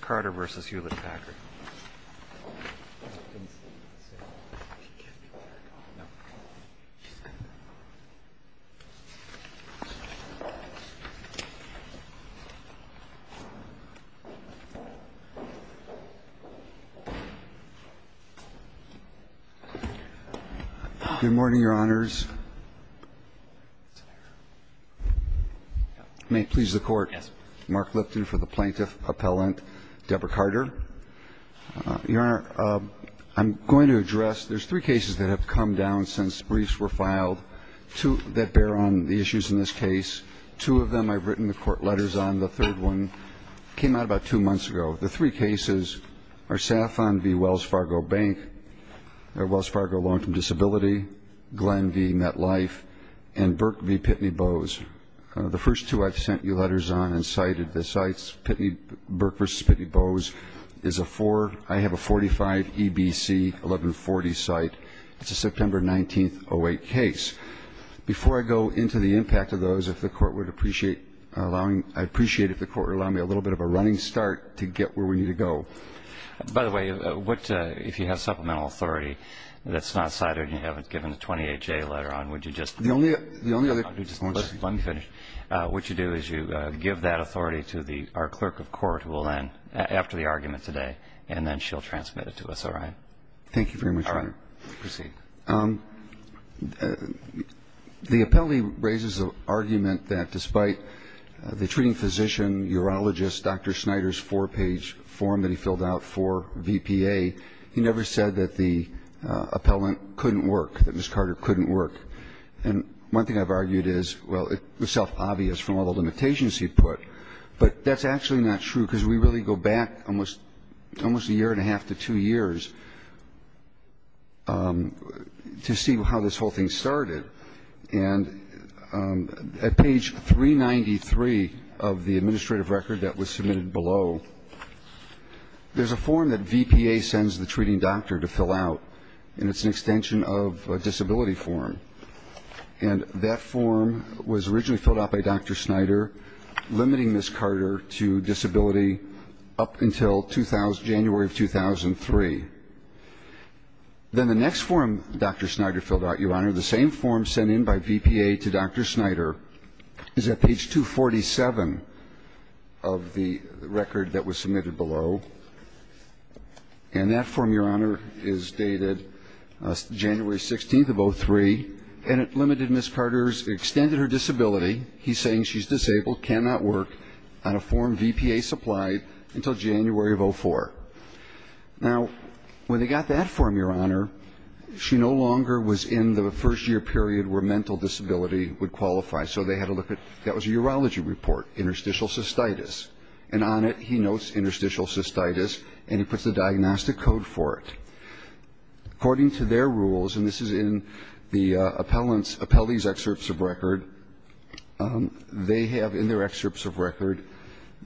Carter v. Hewlett-Packard Good morning, Your Honors. May it please the Court, Mark Lipton for the plaintiff's appellant. Debra Carter. Your Honor, I'm going to address, there's three cases that have come down since briefs were filed that bear on the issues in this case. Two of them I've written the Court letters on. The third one came out about two months ago. The three cases are Saffron v. Wells Fargo Bank, Wells Fargo Loan to Disability, Glenn v. MetLife, and Burke v. Pitney Bowes. The first two I've sent you letters on and cited. The sites, Burke v. Pitney Bowes is a four. I have a 45 EBC 1140 site. It's a September 19th, 08 case. Before I go into the impact of those, if the Court would appreciate allowing, I'd appreciate if the Court would allow me a little bit of a running start to get where we need to go. By the way, if you have supplemental authority that's not cited and you haven't given the 28-J letter on, would you just Let me finish. What you do is you give that authority to our clerk of court who will then, after the argument today, and then she'll transmit it to us, all right? Thank you very much, Your Honor. All right. Proceed. The appellee raises an argument that despite the treating physician, urologist, Dr. Snyder's four-page form that he filled out for VPA, he never said that the appellant couldn't work, that Ms. Carter couldn't work. And one thing I've argued is, well, it was self-obvious from all the limitations he put. But that's actually not true because we really go back almost a year and a half to two years to see how this whole thing started. And at page 393 of the administrative record that was submitted below, there's a form that VPA sends the treating doctor to fill out, and it's an extension of a disability form. And that form was originally filled out by Dr. Snyder, limiting Ms. Carter to disability up until January of 2003. Then the next form Dr. Snyder filled out, Your Honor, the same form sent in by VPA to Dr. Snyder, is at page 247 of the record that was submitted below, and that form, Your Honor, is dated January 16th of 2003, and it limited Ms. Carter's extended her disability. He's saying she's disabled, cannot work on a form VPA supplied until January of 2004. Now, when they got that form, Your Honor, she no longer was in the first year period where mental disability would qualify, so they had to look at that was a urology report, interstitial cystitis, and on it he notes interstitial cystitis, and he puts a diagnostic code for it. According to their rules, and this is in the appellee's excerpts of record, they have in their excerpts of record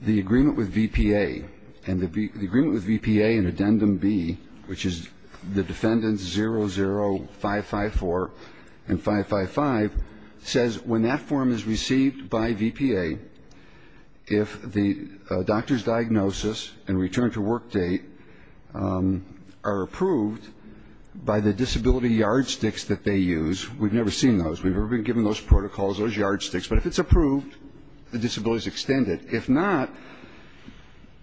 the agreement with VPA, and the agreement with VPA in addendum B, which is the defendants 00554 and 555, says when that form is received by VPA, if the doctor's diagnosis and return to work date are approved by the disability yardsticks that they use, we've never seen those, we've never been given those protocols, those yardsticks, but if it's approved, the disability is extended. If not,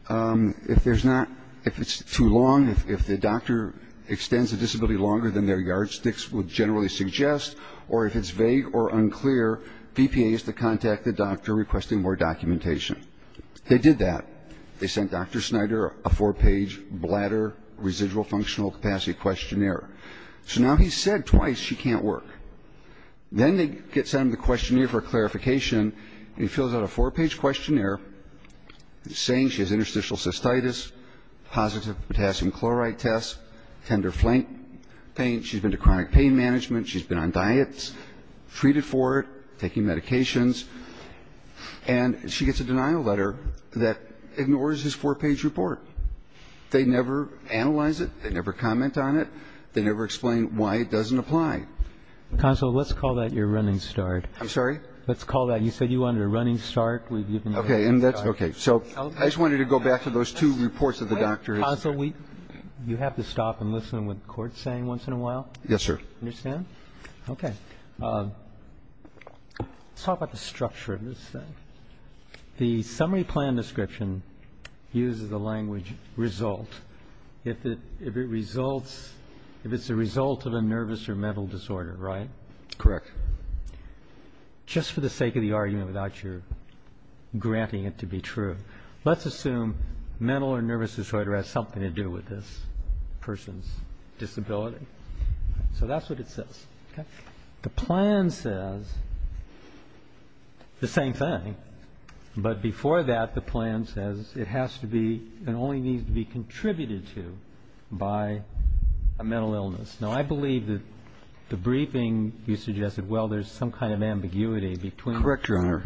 if there's not, if it's too long, if the doctor extends the disability longer than their yardsticks would generally suggest, or if it's vague or unclear, VPA is to contact the doctor requesting more documentation. They did that. They sent Dr. Snyder a four-page bladder residual functional capacity questionnaire. So now he's said twice she can't work. Then they get sent the questionnaire for clarification, and he fills out a four-page questionnaire saying she has interstitial cystitis, positive potassium chloride test, tender flank pain, she's been to chronic pain management, she's been on diets, treated for it, taking medications, and she gets a denial letter that ignores his four-page report. They never analyze it, they never comment on it, they never explain why it doesn't apply. Console, let's call that your running start. I'm sorry? Let's call that, you said you wanted a running start. Okay, and that's, okay, so I just wanted to go back to those two reports of the doctor. Console, you have to stop and listen to what the Court's saying once in a while. Yes, sir. Understand? Okay. Let's talk about the structure of this. The summary plan description uses the language result. If it results, if it's a result of a nervous or mental disorder, right? Correct. Just for the sake of the argument, without your granting it to be true, let's assume mental or nervous disorder has something to do with this person's disability. So that's what it says. The plan says the same thing, but before that the plan says it has to be and only needs to be contributed to by a mental illness. Now, I believe that the briefing you suggested, well, there's some kind of ambiguity between. Correct, Your Honor.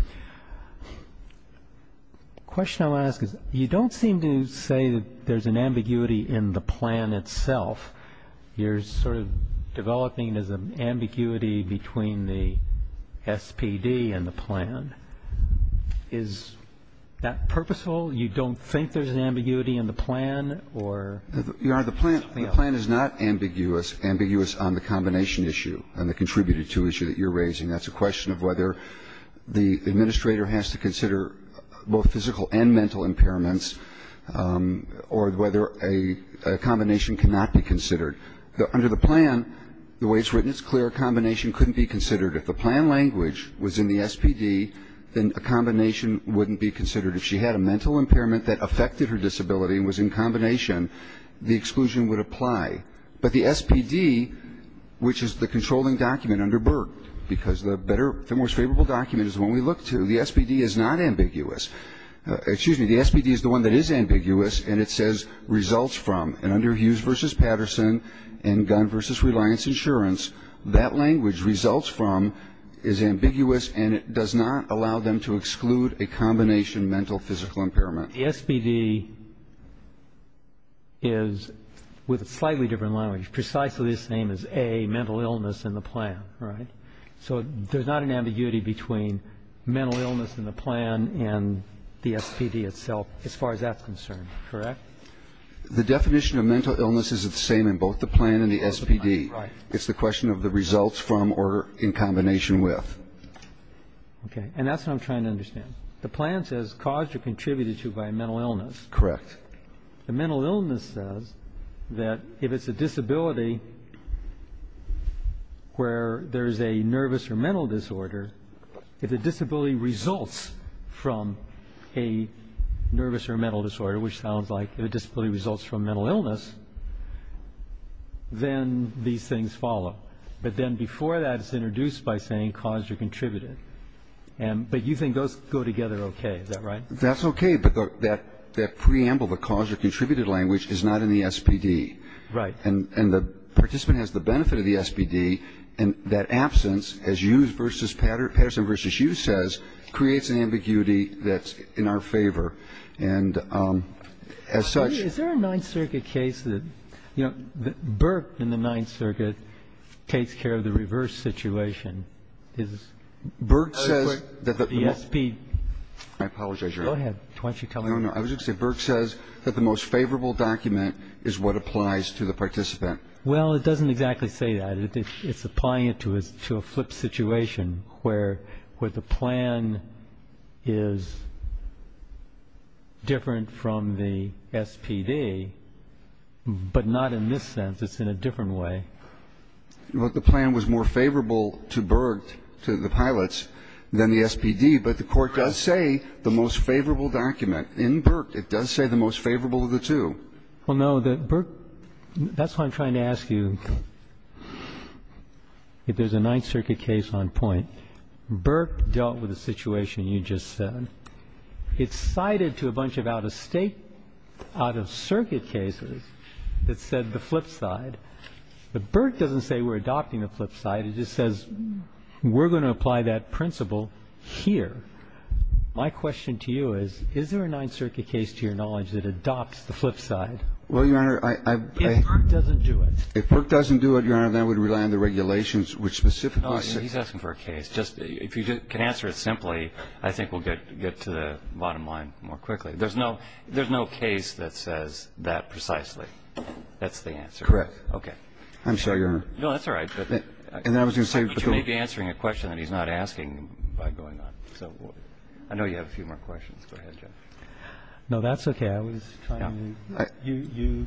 The question I want to ask is you don't seem to say that there's an ambiguity in the plan itself. You're sort of developing as an ambiguity between the SPD and the plan. Is that purposeful? You don't think there's an ambiguity in the plan, or? Your Honor, the plan is not ambiguous. Ambiguous on the combination issue and the contributed to issue that you're raising. That's a question of whether the administrator has to consider both physical and mental impairments or whether a combination cannot be considered. Under the plan, the way it's written, it's clear a combination couldn't be considered. If the plan language was in the SPD, then a combination wouldn't be considered. If she had a mental impairment that affected her disability and was in combination, the exclusion would apply. But the SPD, which is the controlling document under Burke, because the most favorable document is the one we look to, the SPD is not ambiguous. Excuse me, the SPD is the one that is ambiguous, and it says results from. And under Hughes v. Patterson and Gunn v. Reliance Insurance, that language, results from, is ambiguous, and it does not allow them to exclude a combination mental-physical impairment. The SPD is, with a slightly different language, precisely the same as A, mental illness in the plan, right? So there's not an ambiguity between mental illness in the plan and the SPD itself as far as that's concerned, correct? The definition of mental illness is the same in both the plan and the SPD. Right. It's the question of the results from or in combination with. Okay. And that's what I'm trying to understand. The plan says caused or contributed to by a mental illness. Correct. The mental illness says that if it's a disability where there is a nervous or mental disorder, if the disability results from a nervous or mental disorder, which sounds like the disability results from mental illness, then these things follow. But then before that, it's introduced by saying caused or contributed. But you think those go together okay, is that right? That's okay. But that preamble, the caused or contributed language, is not in the SPD. Right. And the participant has the benefit of the SPD, and that absence, as Patterson v. Hughes says, creates an ambiguity that's in our favor. And as such ---- Is there a Ninth Circuit case that, you know, Burke in the Ninth Circuit takes care of the reverse situation? Is Burke says that the SPD ---- I apologize, Your Honor. Go ahead. Why don't you tell me? I was going to say Burke says that the most favorable document is what applies to the participant. Well, it doesn't exactly say that. It's applying it to a flip situation where the plan is different from the SPD, but not in this sense. It's in a different way. The plan was more favorable to Burke, to the pilots, than the SPD, but the Court does say the most favorable document. In Burke, it does say the most favorable of the two. Well, no. Burke ---- that's why I'm trying to ask you if there's a Ninth Circuit case on point. Burke dealt with a situation you just said. It's cited to a bunch of out-of-state, out-of-circuit cases that said the flip side, but Burke doesn't say we're adopting the flip side. It just says we're going to apply that principle here. My question to you is, is there a Ninth Circuit case, to your knowledge, that adopts the flip side? Well, Your Honor, I ---- If Burke doesn't do it. If Burke doesn't do it, Your Honor, then we'd rely on the regulations which specifically say ---- He's asking for a case. If you can answer it simply, I think we'll get to the bottom line more quickly. There's no case that says that precisely. That's the answer. Correct. Okay. I'm sorry, Your Honor. No, that's all right. And I was going to say ---- But you may be answering a question that he's not asking by going on. So I know you have a few more questions. Go ahead, Jeff. No, that's okay. I was trying to ----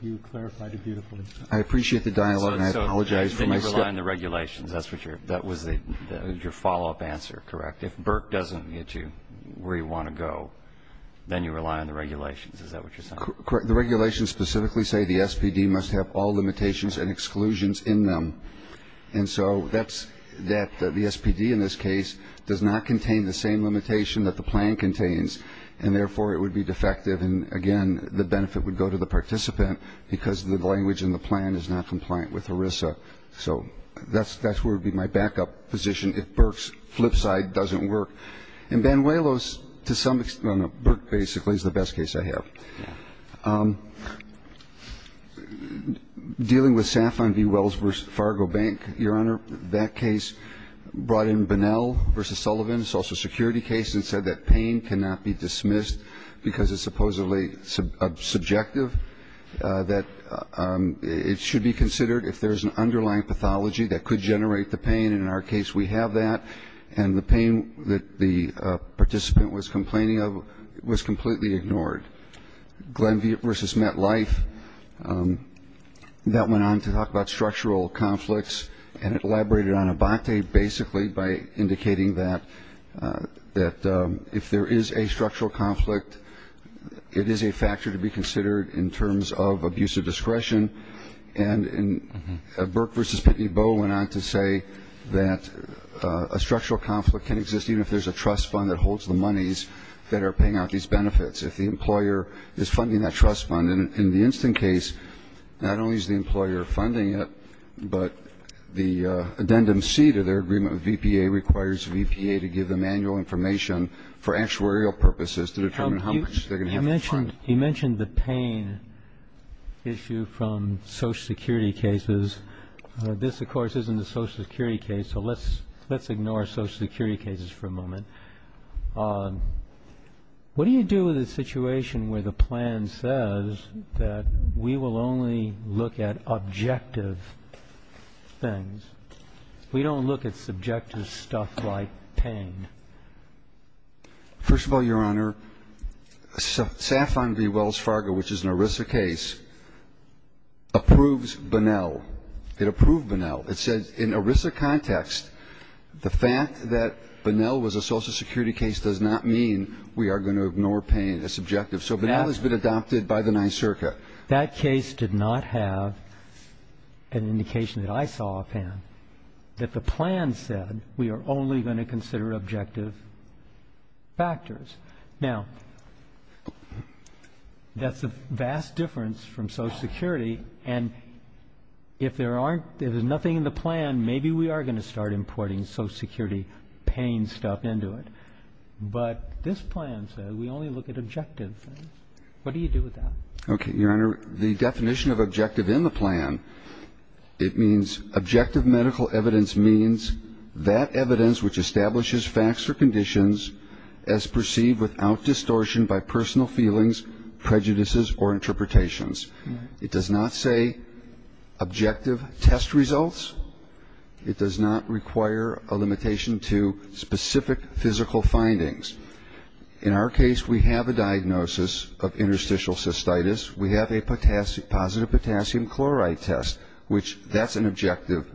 You clarified it beautifully. I appreciate the dialogue, and I apologize for my step. So then you rely on the regulations. That's what your ---- that was your follow-up answer, correct? If Burke doesn't get you where you want to go, then you rely on the regulations. Is that what you're saying? The regulations specifically say the SPD must have all limitations and exclusions in them. And so that's that the SPD in this case does not contain the same limitation that the plan contains, and therefore it would be defective. And, again, the benefit would go to the participant because the language in the plan is not compliant with ERISA. So that's where it would be my backup position if Burke's flip side doesn't work. And Banuelos, to some extent, no, Burke basically is the best case I have. Yeah. Dealing with Safon v. Wells v. Fargo Bank, Your Honor, that case brought in Bunnell v. Sullivan, a Social Security case, and said that pain cannot be dismissed because it's supposedly subjective, that it should be considered if there's an underlying pathology that could generate the pain. And in our case, we have that. And the pain that the participant was complaining of was completely ignored. Glenn v. MetLife, that went on to talk about structural conflicts and elaborated on Abbate basically by indicating that if there is a structural conflict, it is a factor to be considered in terms of abuse of discretion. And Burke v. Pitney Bow went on to say that a structural conflict can exist even if there's a trust fund that holds the monies that are paying out these benefits. If the employer is funding that trust fund, in the instant case, not only is the employer funding it, but the addendum C to their agreement with VPA requires VPA to give them annual information for actuarial purposes to determine how much they're going to have to fund. He mentioned the pain issue from Social Security cases. This, of course, isn't a Social Security case, so let's ignore Social Security cases for a moment. What do you do with a situation where the plan says that we will only look at objective things? We don't look at subjective stuff like pain. First of all, Your Honor, Safon v. Wells Fargo, which is an ERISA case, approves Bonnell. It approved Bonnell. It says in ERISA context, the fact that Bonnell was a Social Security case does not mean we are going to ignore pain as subjective. So Bonnell has been adopted by the NYSERCA. That case did not have an indication that I saw a pain. Now, let's look at the plan. The plan said we are only going to consider objective factors. Now, that's a vast difference from Social Security, and if there aren't — if there's nothing in the plan, maybe we are going to start importing Social Security pain stuff into it. But this plan says we only look at objective things. What do you do with that? Okay, Your Honor, the definition of objective in the plan, it means objective medical evidence means that evidence which establishes facts or conditions as perceived without distortion by personal feelings, prejudices, or interpretations. It does not say objective test results. It does not require a limitation to specific physical findings. In our case, we have a diagnosis of interstitial cystitis. We have a positive potassium chloride test, which that's an objective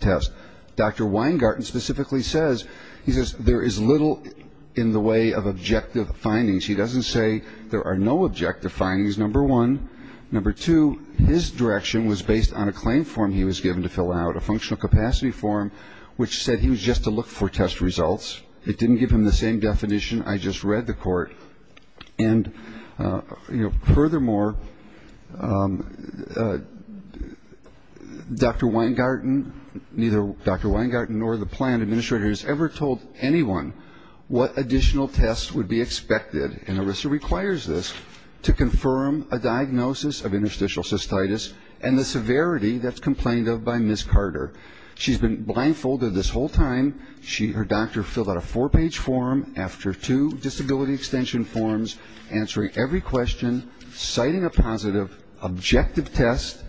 test. Dr. Weingarten specifically says there is little in the way of objective findings. He doesn't say there are no objective findings, number one. Number two, his direction was based on a claim form he was given to fill out, a functional capacity form, which said he was just to look for test results. It didn't give him the same definition. I just read the court. And, you know, furthermore, Dr. Weingarten, neither Dr. Weingarten nor the plan administrator has ever told anyone what additional tests would be expected. And ERISA requires this to confirm a diagnosis of interstitial cystitis and the severity that's complained of by Ms. Carter. She's been blindfolded this whole time. Her doctor filled out a four-page form after two disability extension forms, answering every question, citing a positive objective test.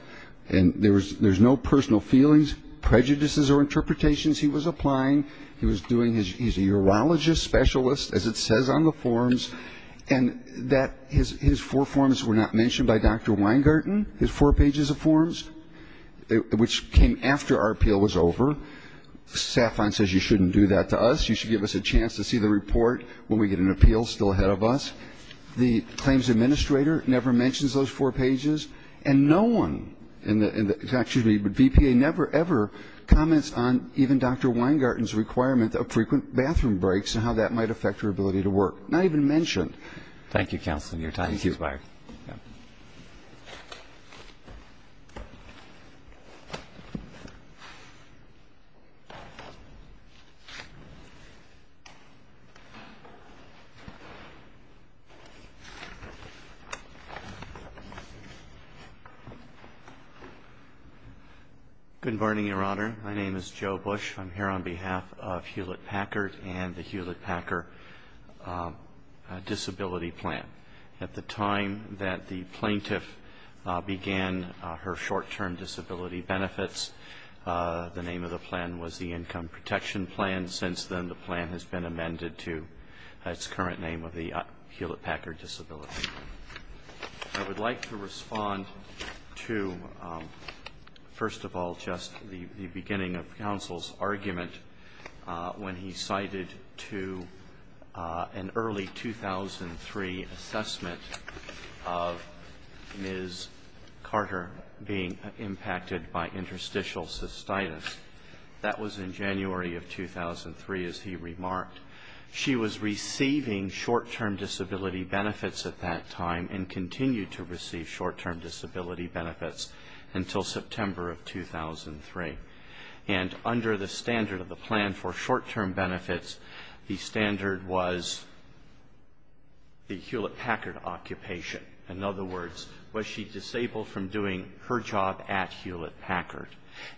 And there's no personal feelings, prejudices, or interpretations he was applying. He's a urologist specialist, as it says on the forms. And his four forms were not mentioned by Dr. Weingarten, his four pages of forms, which came after our appeal was over. SAFON says you shouldn't do that to us. You should give us a chance to see the report when we get an appeal still ahead of us. The claims administrator never mentions those four pages, and no one in the VPA never, ever comments on even Dr. Weingarten's requirement of frequent bathroom breaks and how that might affect her ability to work. Not even mentioned. Thank you, Counsel, and your time has expired. Thank you. Good morning, Your Honor. My name is Joe Bush. I'm here on behalf of Hewlett-Packard and the Hewlett-Packard Disability Plan. At the time that the plaintiff began her short-term disability benefits, the name of the plan was the Income Protection Plan. Since then, the plan has been amended to its current name of the Hewlett-Packard Disability Plan. I would like to respond to, first of all, just the beginning of Counsel's argument when he cited to an early 2003 assessment of Ms. Carter being impacted by interstitial cystitis. That was in January of 2003, as he remarked. She was receiving short-term disability benefits at that time and continued to receive short-term disability benefits until September of 2003. And under the standard of the plan for short-term benefits, the standard was the Hewlett-Packard occupation. In other words, was she disabled from doing her job at Hewlett-Packard?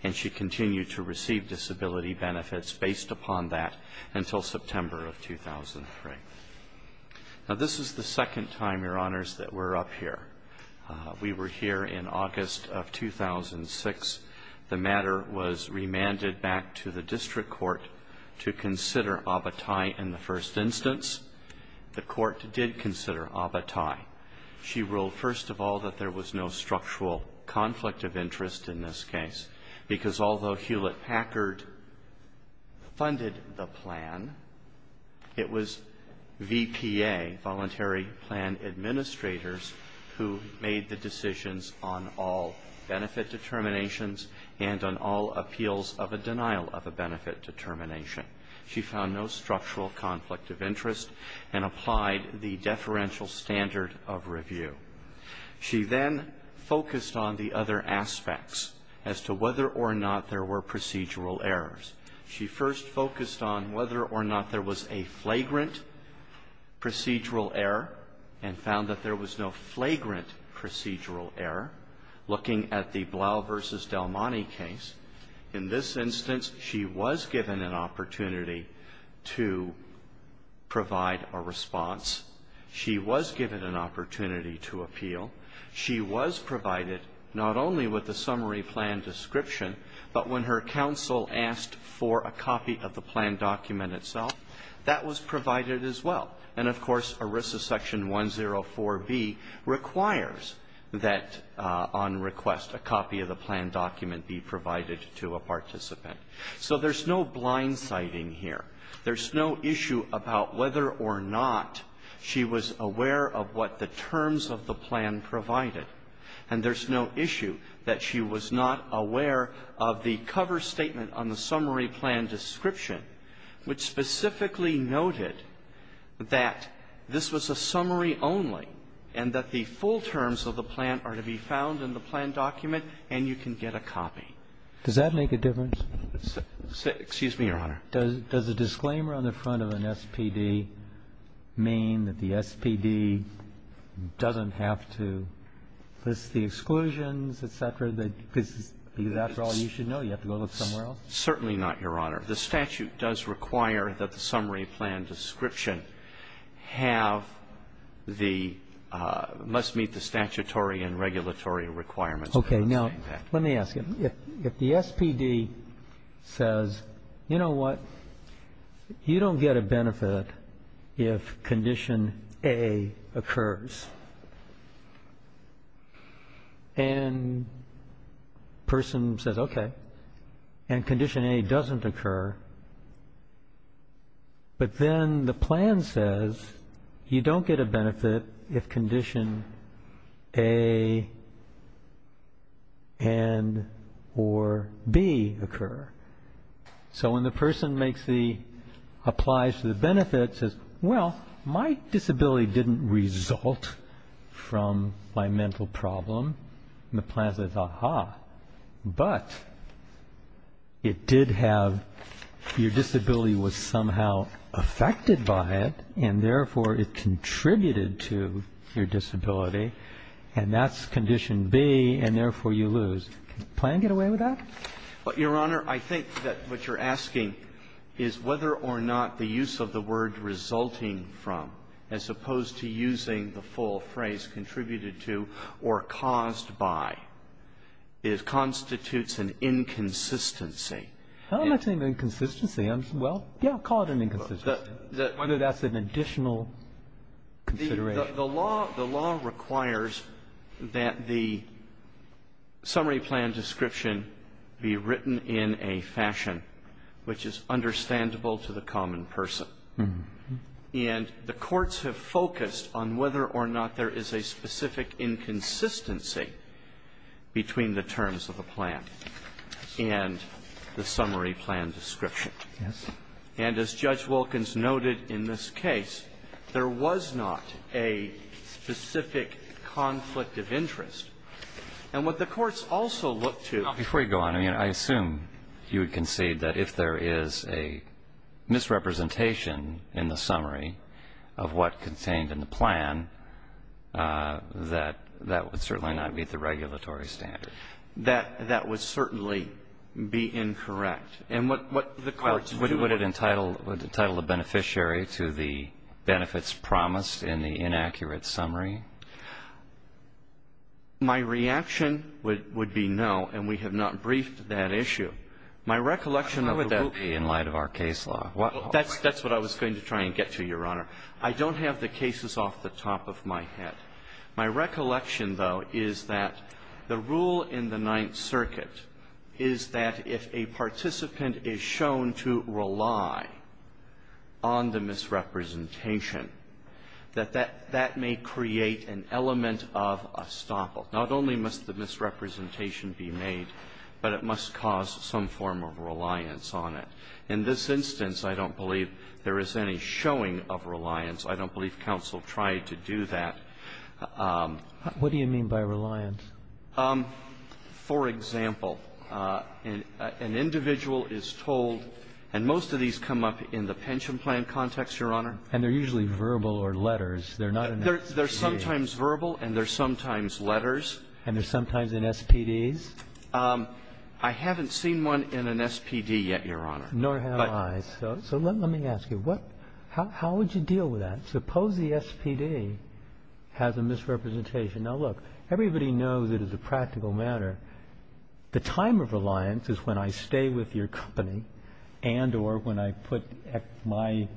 And she continued to receive disability benefits based upon that until September of 2003. Now, this is the second time, Your Honors, that we're up here. We were here in August of 2006. The matter was remanded back to the district court to consider abetai in the first instance. The court did consider abetai. She ruled, first of all, that there was no structural conflict of interest in this case because although Hewlett-Packard funded the plan, it was VPA, Voluntary Plan Administrators, who made the decisions on all benefit determinations and on all appeals of a denial of a benefit determination. She found no structural conflict of interest and applied the deferential standard of review. She then focused on the other aspects as to whether or not there were procedural errors. She first focused on whether or not there was a flagrant procedural error and found that there was no flagrant procedural error. Looking at the Blau v. Del Monte case, in this instance, she was given an opportunity to provide a response. She was given an opportunity to appeal. She was provided not only with a summary plan description, but when her counsel asked for a copy of the plan document itself, that was provided as well. And, of course, ERISA section 104B requires that, on request, a copy of the plan document be provided to a participant. So there's no blindsiding here. There's no issue about whether or not she was aware of what the terms of the plan provided. And there's no issue that she was not aware of the cover statement on the summary plan description, which specifically noted that this was a summary only and that the full terms of the plan are to be found in the plan document and you can get a copy. Does that make a difference? Excuse me, Your Honor. Does a disclaimer on the front of an SPD mean that the SPD doesn't have to list the exclusions, et cetera, because that's all you should know? You have to go look somewhere else? Certainly not, Your Honor. The statute does require that the summary plan description have the, must meet the statutory and regulatory requirements. Okay. Now, let me ask you. If the SPD says, you know what, you don't get a benefit if condition A occurs, and the person says, okay, and condition A doesn't occur, but then the plan says you don't get a benefit if condition A and or B occur. So when the person makes the, applies for the benefit, says, well, my disability didn't result from my mental problem, and the plan says, aha, but it did have, your disability was somehow affected by it, and therefore it contributed to your disability, and that's condition B, and therefore you lose. Does the plan get away with that? Your Honor, I think that what you're asking is whether or not the use of the word resulting from, as opposed to using the full phrase contributed to or caused by, constitutes an inconsistency. I don't think it's an inconsistency. Well, yeah, I'll call it an inconsistency, whether that's an additional consideration. The law requires that the summary plan description be written in a fashion which is understandable to the common person. And the courts have focused on whether or not there is a specific inconsistency between the terms of the plan and the summary plan description. Yes. And as Judge Wilkins noted in this case, there was not a specific conflict of interest. And what the courts also looked to. Now, before you go on, I mean, I assume you would concede that if there is a misrepresentation in the summary of what contained in the plan, that that would certainly not meet the regulatory standard. That would certainly be incorrect. And what the courts do. Would it entitle the beneficiary to the benefits promised in the inaccurate summary? My reaction would be no, and we have not briefed that issue. My recollection of the rule. How would that be in light of our case law? That's what I was going to try and get to, Your Honor. I don't have the cases off the top of my head. My recollection, though, is that the rule in the Ninth Circuit is that if a participant is shown to rely on the misrepresentation, that that may create an element of estoppel. Not only must the misrepresentation be made, but it must cause some form of reliance on it. In this instance, I don't believe there is any showing of reliance. I don't believe counsel tried to do that. What do you mean by reliance? For example, an individual is told, and most of these come up in the pension plan context, Your Honor. And they're usually verbal or letters. They're not an SPD. They're sometimes verbal and they're sometimes letters. And they're sometimes in SPDs? I haven't seen one in an SPD yet, Your Honor. Nor have I. So let me ask you, how would you deal with that? Suppose the SPD has a misrepresentation. Now, look, everybody knows it is a practical matter. The time of reliance is when I stay with your company and or when I put my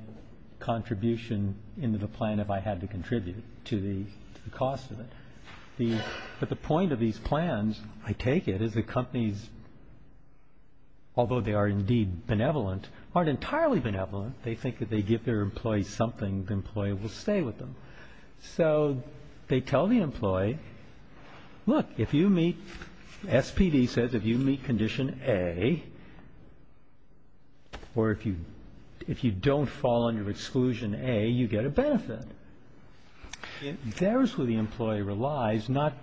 contribution into the plan if I had to contribute to the cost of it. But the point of these plans, I take it, is that companies, although they are indeed benevolent, aren't entirely benevolent. They think that they give their employees something, the employee will stay with them. So they tell the employee, look, if you meet, SPD says if you meet condition A or if you don't fall under exclusion A, you get a benefit. There's where the employee relies, not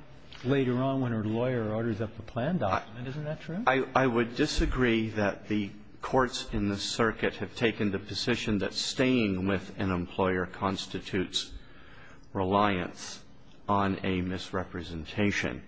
later on when her lawyer orders up the plan document. Isn't that true? I would disagree that the courts in this circuit have taken the position that staying with an employer constitutes reliance on a misrepresentation.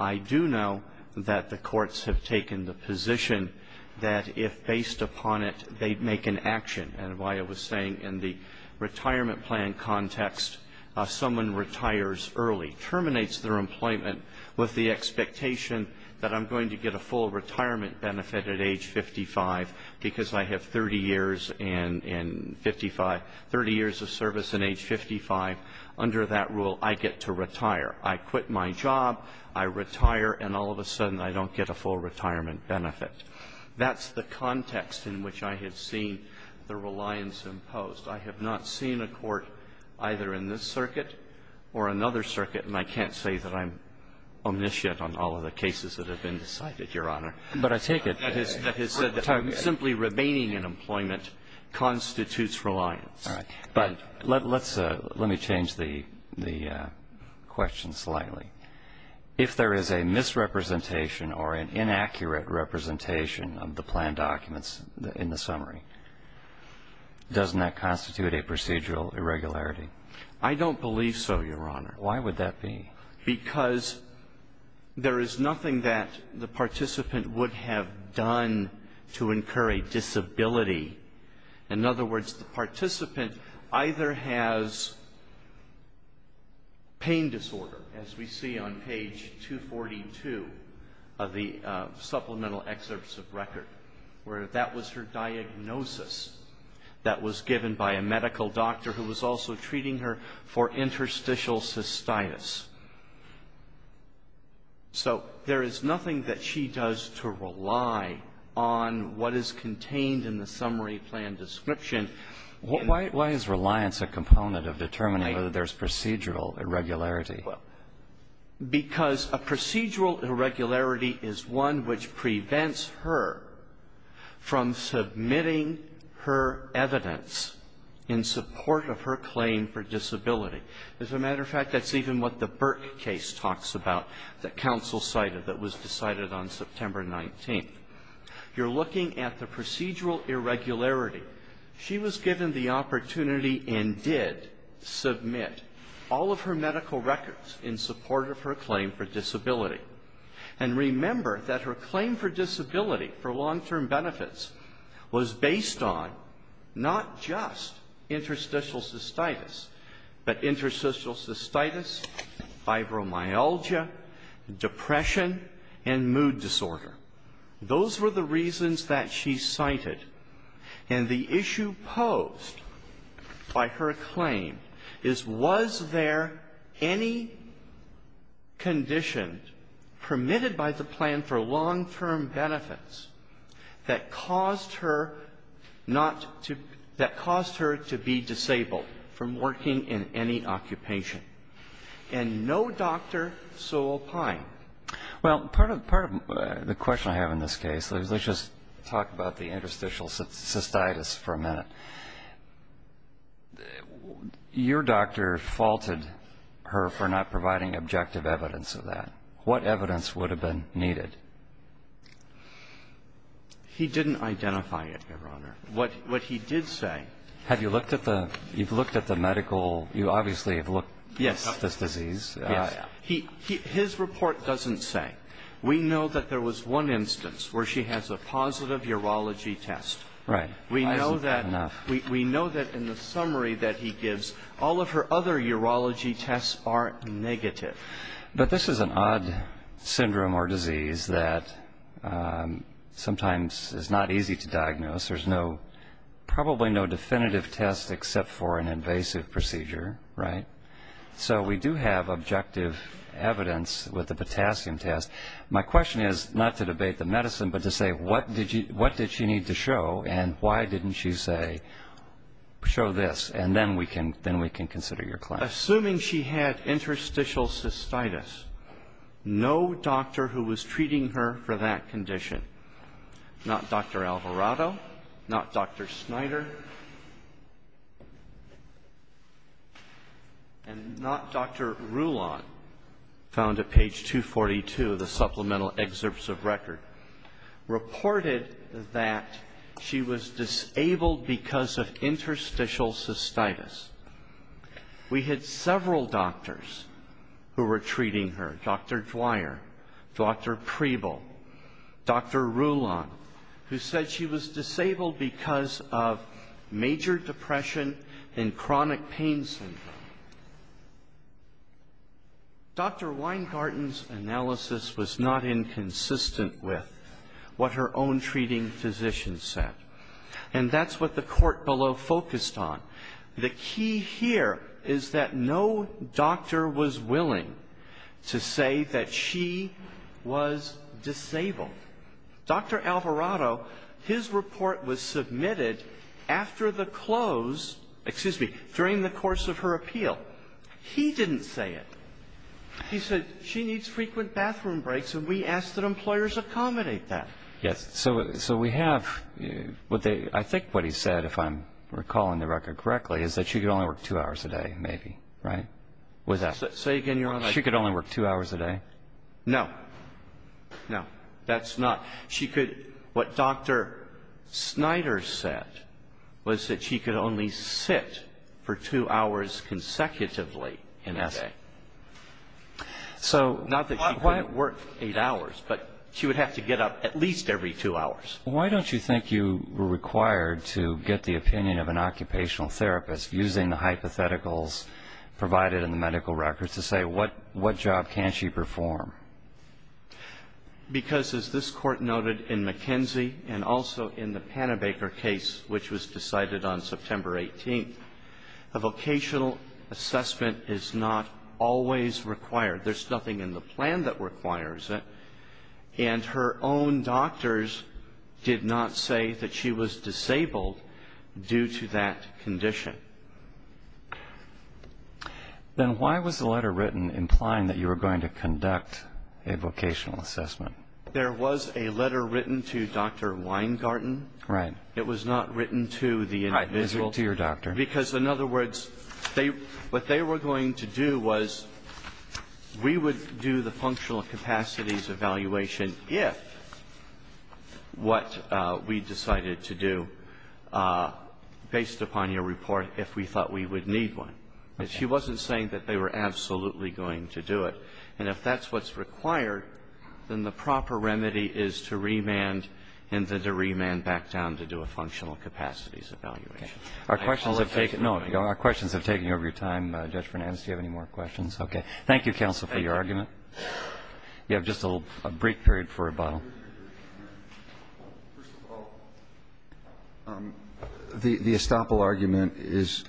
I do know that the courts have taken the position that if based upon it, they make an action. And why I was saying in the retirement plan context, someone retires early, terminates their employment with the expectation that I'm going to get a full retirement benefit at age 55 because I have 30 years and 55, 30 years of service and age 55. Under that rule, I get to retire. I quit my job. I retire. And all of a sudden, I don't get a full retirement benefit. That's the context in which I had seen the reliance imposed. I have not seen a court either in this circuit or another circuit, and I can't say that I'm omniscient on all of the cases that have been decided, Your Honor. But I take it. That has said that simply remaining in employment constitutes reliance. All right. But let's – let me change the question slightly. If there is a misrepresentation or an inaccurate representation of the plan documents in the summary, doesn't that constitute a procedural irregularity? I don't believe so, Your Honor. Why would that be? Because there is nothing that the participant would have done to incur a disability. In other words, the participant either has pain disorder, as we see on page 242 of the diagnosis that was given by a medical doctor who was also treating her for interstitial cystitis. So there is nothing that she does to rely on what is contained in the summary plan description. Why is reliance a component of determining whether there's procedural irregularity? Because a procedural irregularity is one which prevents her from submitting her evidence in support of her claim for disability. As a matter of fact, that's even what the Burke case talks about that counsel cited that was decided on September 19th. You're looking at the procedural irregularity. However, she was given the opportunity and did submit all of her medical records in support of her claim for disability. And remember that her claim for disability for long-term benefits was based on not just interstitial cystitis, but interstitial cystitis, fibromyalgia, depression, and mood disorder. Those were the reasons that she cited. And the issue posed by her claim is, was there any condition permitted by the plan for long-term benefits that caused her not to be, that caused her to be disabled from working in any occupation? And no doctor so opined. Well, part of the question I have in this case, let's just talk about the interstitial cystitis for a minute. Your doctor faulted her for not providing objective evidence of that. What evidence would have been needed? He didn't identify it, Your Honor. What he did say. Have you looked at the medical? You obviously have looked at this disease. Yes. His report doesn't say. We know that there was one instance where she has a positive urology test. Right. Why isn't that enough? We know that in the summary that he gives, all of her other urology tests are negative. But this is an odd syndrome or disease that sometimes is not easy to diagnose. There's no, probably no definitive test except for an invasive procedure, right? So we do have objective evidence with the potassium test. My question is, not to debate the medicine, but to say what did she need to show and why didn't she say, show this, and then we can consider your claim. Assuming she had interstitial cystitis, no doctor who was treating her for that condition. Not Dr. Alvarado, not Dr. Snyder, and not Dr. Rulon, found at page 242 of the supplemental excerpts of record, reported that she was disabled because of interstitial cystitis. We had several doctors who were treating her, Dr. Dwyer, Dr. Preble, Dr. Rulon, who said she was disabled because of major depression and chronic pain syndrome. Dr. Weingarten's analysis was not inconsistent with what her own treating physician said. And that's what the court below focused on. The key here is that no doctor was willing to say that she was disabled. Dr. Alvarado, his report was submitted after the close, excuse me, during the course of her appeal. He didn't say it. He said she needs frequent bathroom breaks, and we asked that employers accommodate that. Yes. So we have what they – I think what he said, if I'm recalling the record correctly, is that she could only work two hours a day, maybe, right? Say again, Your Honor. She could only work two hours a day? No. No. That's not – she could – what Dr. Snyder said was that she could only sit for two hours consecutively in a day. So not that she couldn't work eight hours, but she would have to get up at least every two hours. Why don't you think you were required to get the opinion of an occupational therapist using the hypotheticals provided in the medical records to say what job can she perform? Because, as this Court noted in McKenzie and also in the Panabaker case, which was decided on September 18th, a vocational assessment is not always required. There's nothing in the plan that requires it. And her own doctors did not say that she was disabled due to that condition. Then why was the letter written implying that you were going to conduct a vocational assessment? There was a letter written to Dr. Weingarten. Right. It was not written to the individual. To your doctor. Because, in other words, they – what they were going to do was we would do the functional capacities evaluation if what we decided to do based upon your report, if we thought we would need one. Okay. She wasn't saying that they were absolutely going to do it. And if that's what's required, then the proper remedy is to remand and then to remand back down to do a functional capacities evaluation. Okay. Our questions have taken over your time. Judge Fernandes, do you have any more questions? Okay. Thank you, counsel, for your argument. Thank you. You have just a brief period for rebuttal. First of all, the estoppel argument is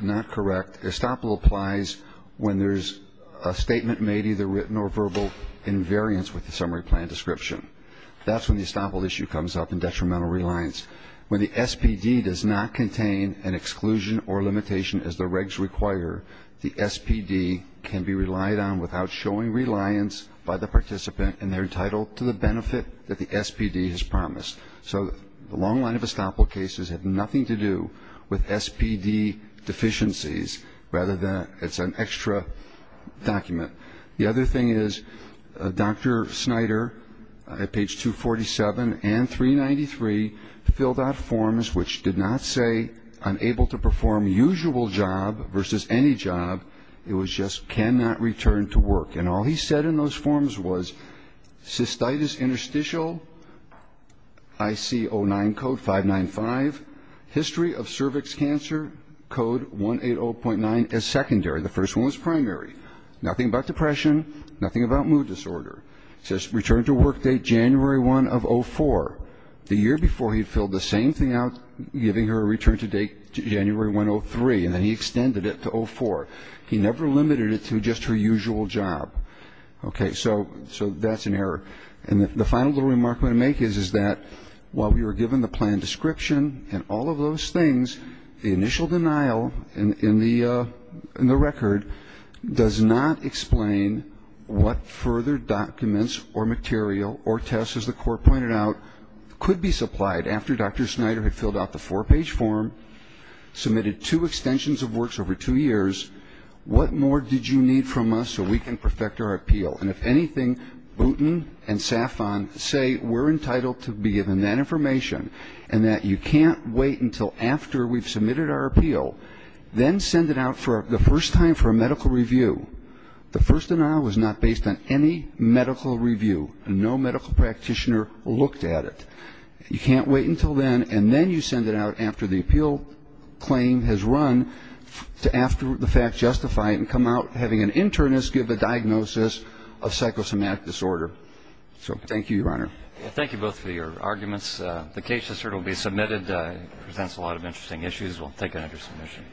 not correct. Estoppel applies when there's a statement made, either written or verbal, in variance with the summary plan description. That's when the estoppel issue comes up in detrimental reliance. When the SPD does not contain an exclusion or limitation as the regs require, the SPD can be relied on without showing reliance by the participant, and they're entitled to the benefit that the SPD has promised. So the long line of estoppel cases have nothing to do with SPD deficiencies, rather than it's an extra document. The other thing is Dr. Snyder, at page 247 and 393, filled out forms which did not say unable to perform usual job versus any job. It was just cannot return to work. And all he said in those forms was cystitis interstitial IC09 code 595, history of cervix cancer code 180.9 as secondary. The first one was primary. Nothing about depression, nothing about mood disorder. It says return to work date January 1 of 04. The year before he filled the same thing out, giving her a return to date January 1, 03, and then he extended it to 04. He never limited it to just her usual job. Okay. So that's an error. And the final little remark I'm going to make is that while we were given the plan description and all of those things, the initial denial in the record does not explain what further documents or material or tests, as the court pointed out, could be supplied after Dr. Snyder had filled out the four-page form, submitted two extensions of works over two years. What more did you need from us so we can perfect our appeal? And if anything, Boutin and Safon say we're entitled to be given that information, and that you can't wait until after we've submitted our appeal, then send it out for the first time for a medical review. The first denial was not based on any medical review. No medical practitioner looked at it. You can't wait until then, and then you send it out after the appeal claim has run to after the fact justified and you can't wait until after the appeal claim has run to after the fact justified. So that's my argument. Thank you, Your Honor. Thank you both for your arguments. The case has certainly been submitted. It presents a lot of interesting issues. We'll take it under submission.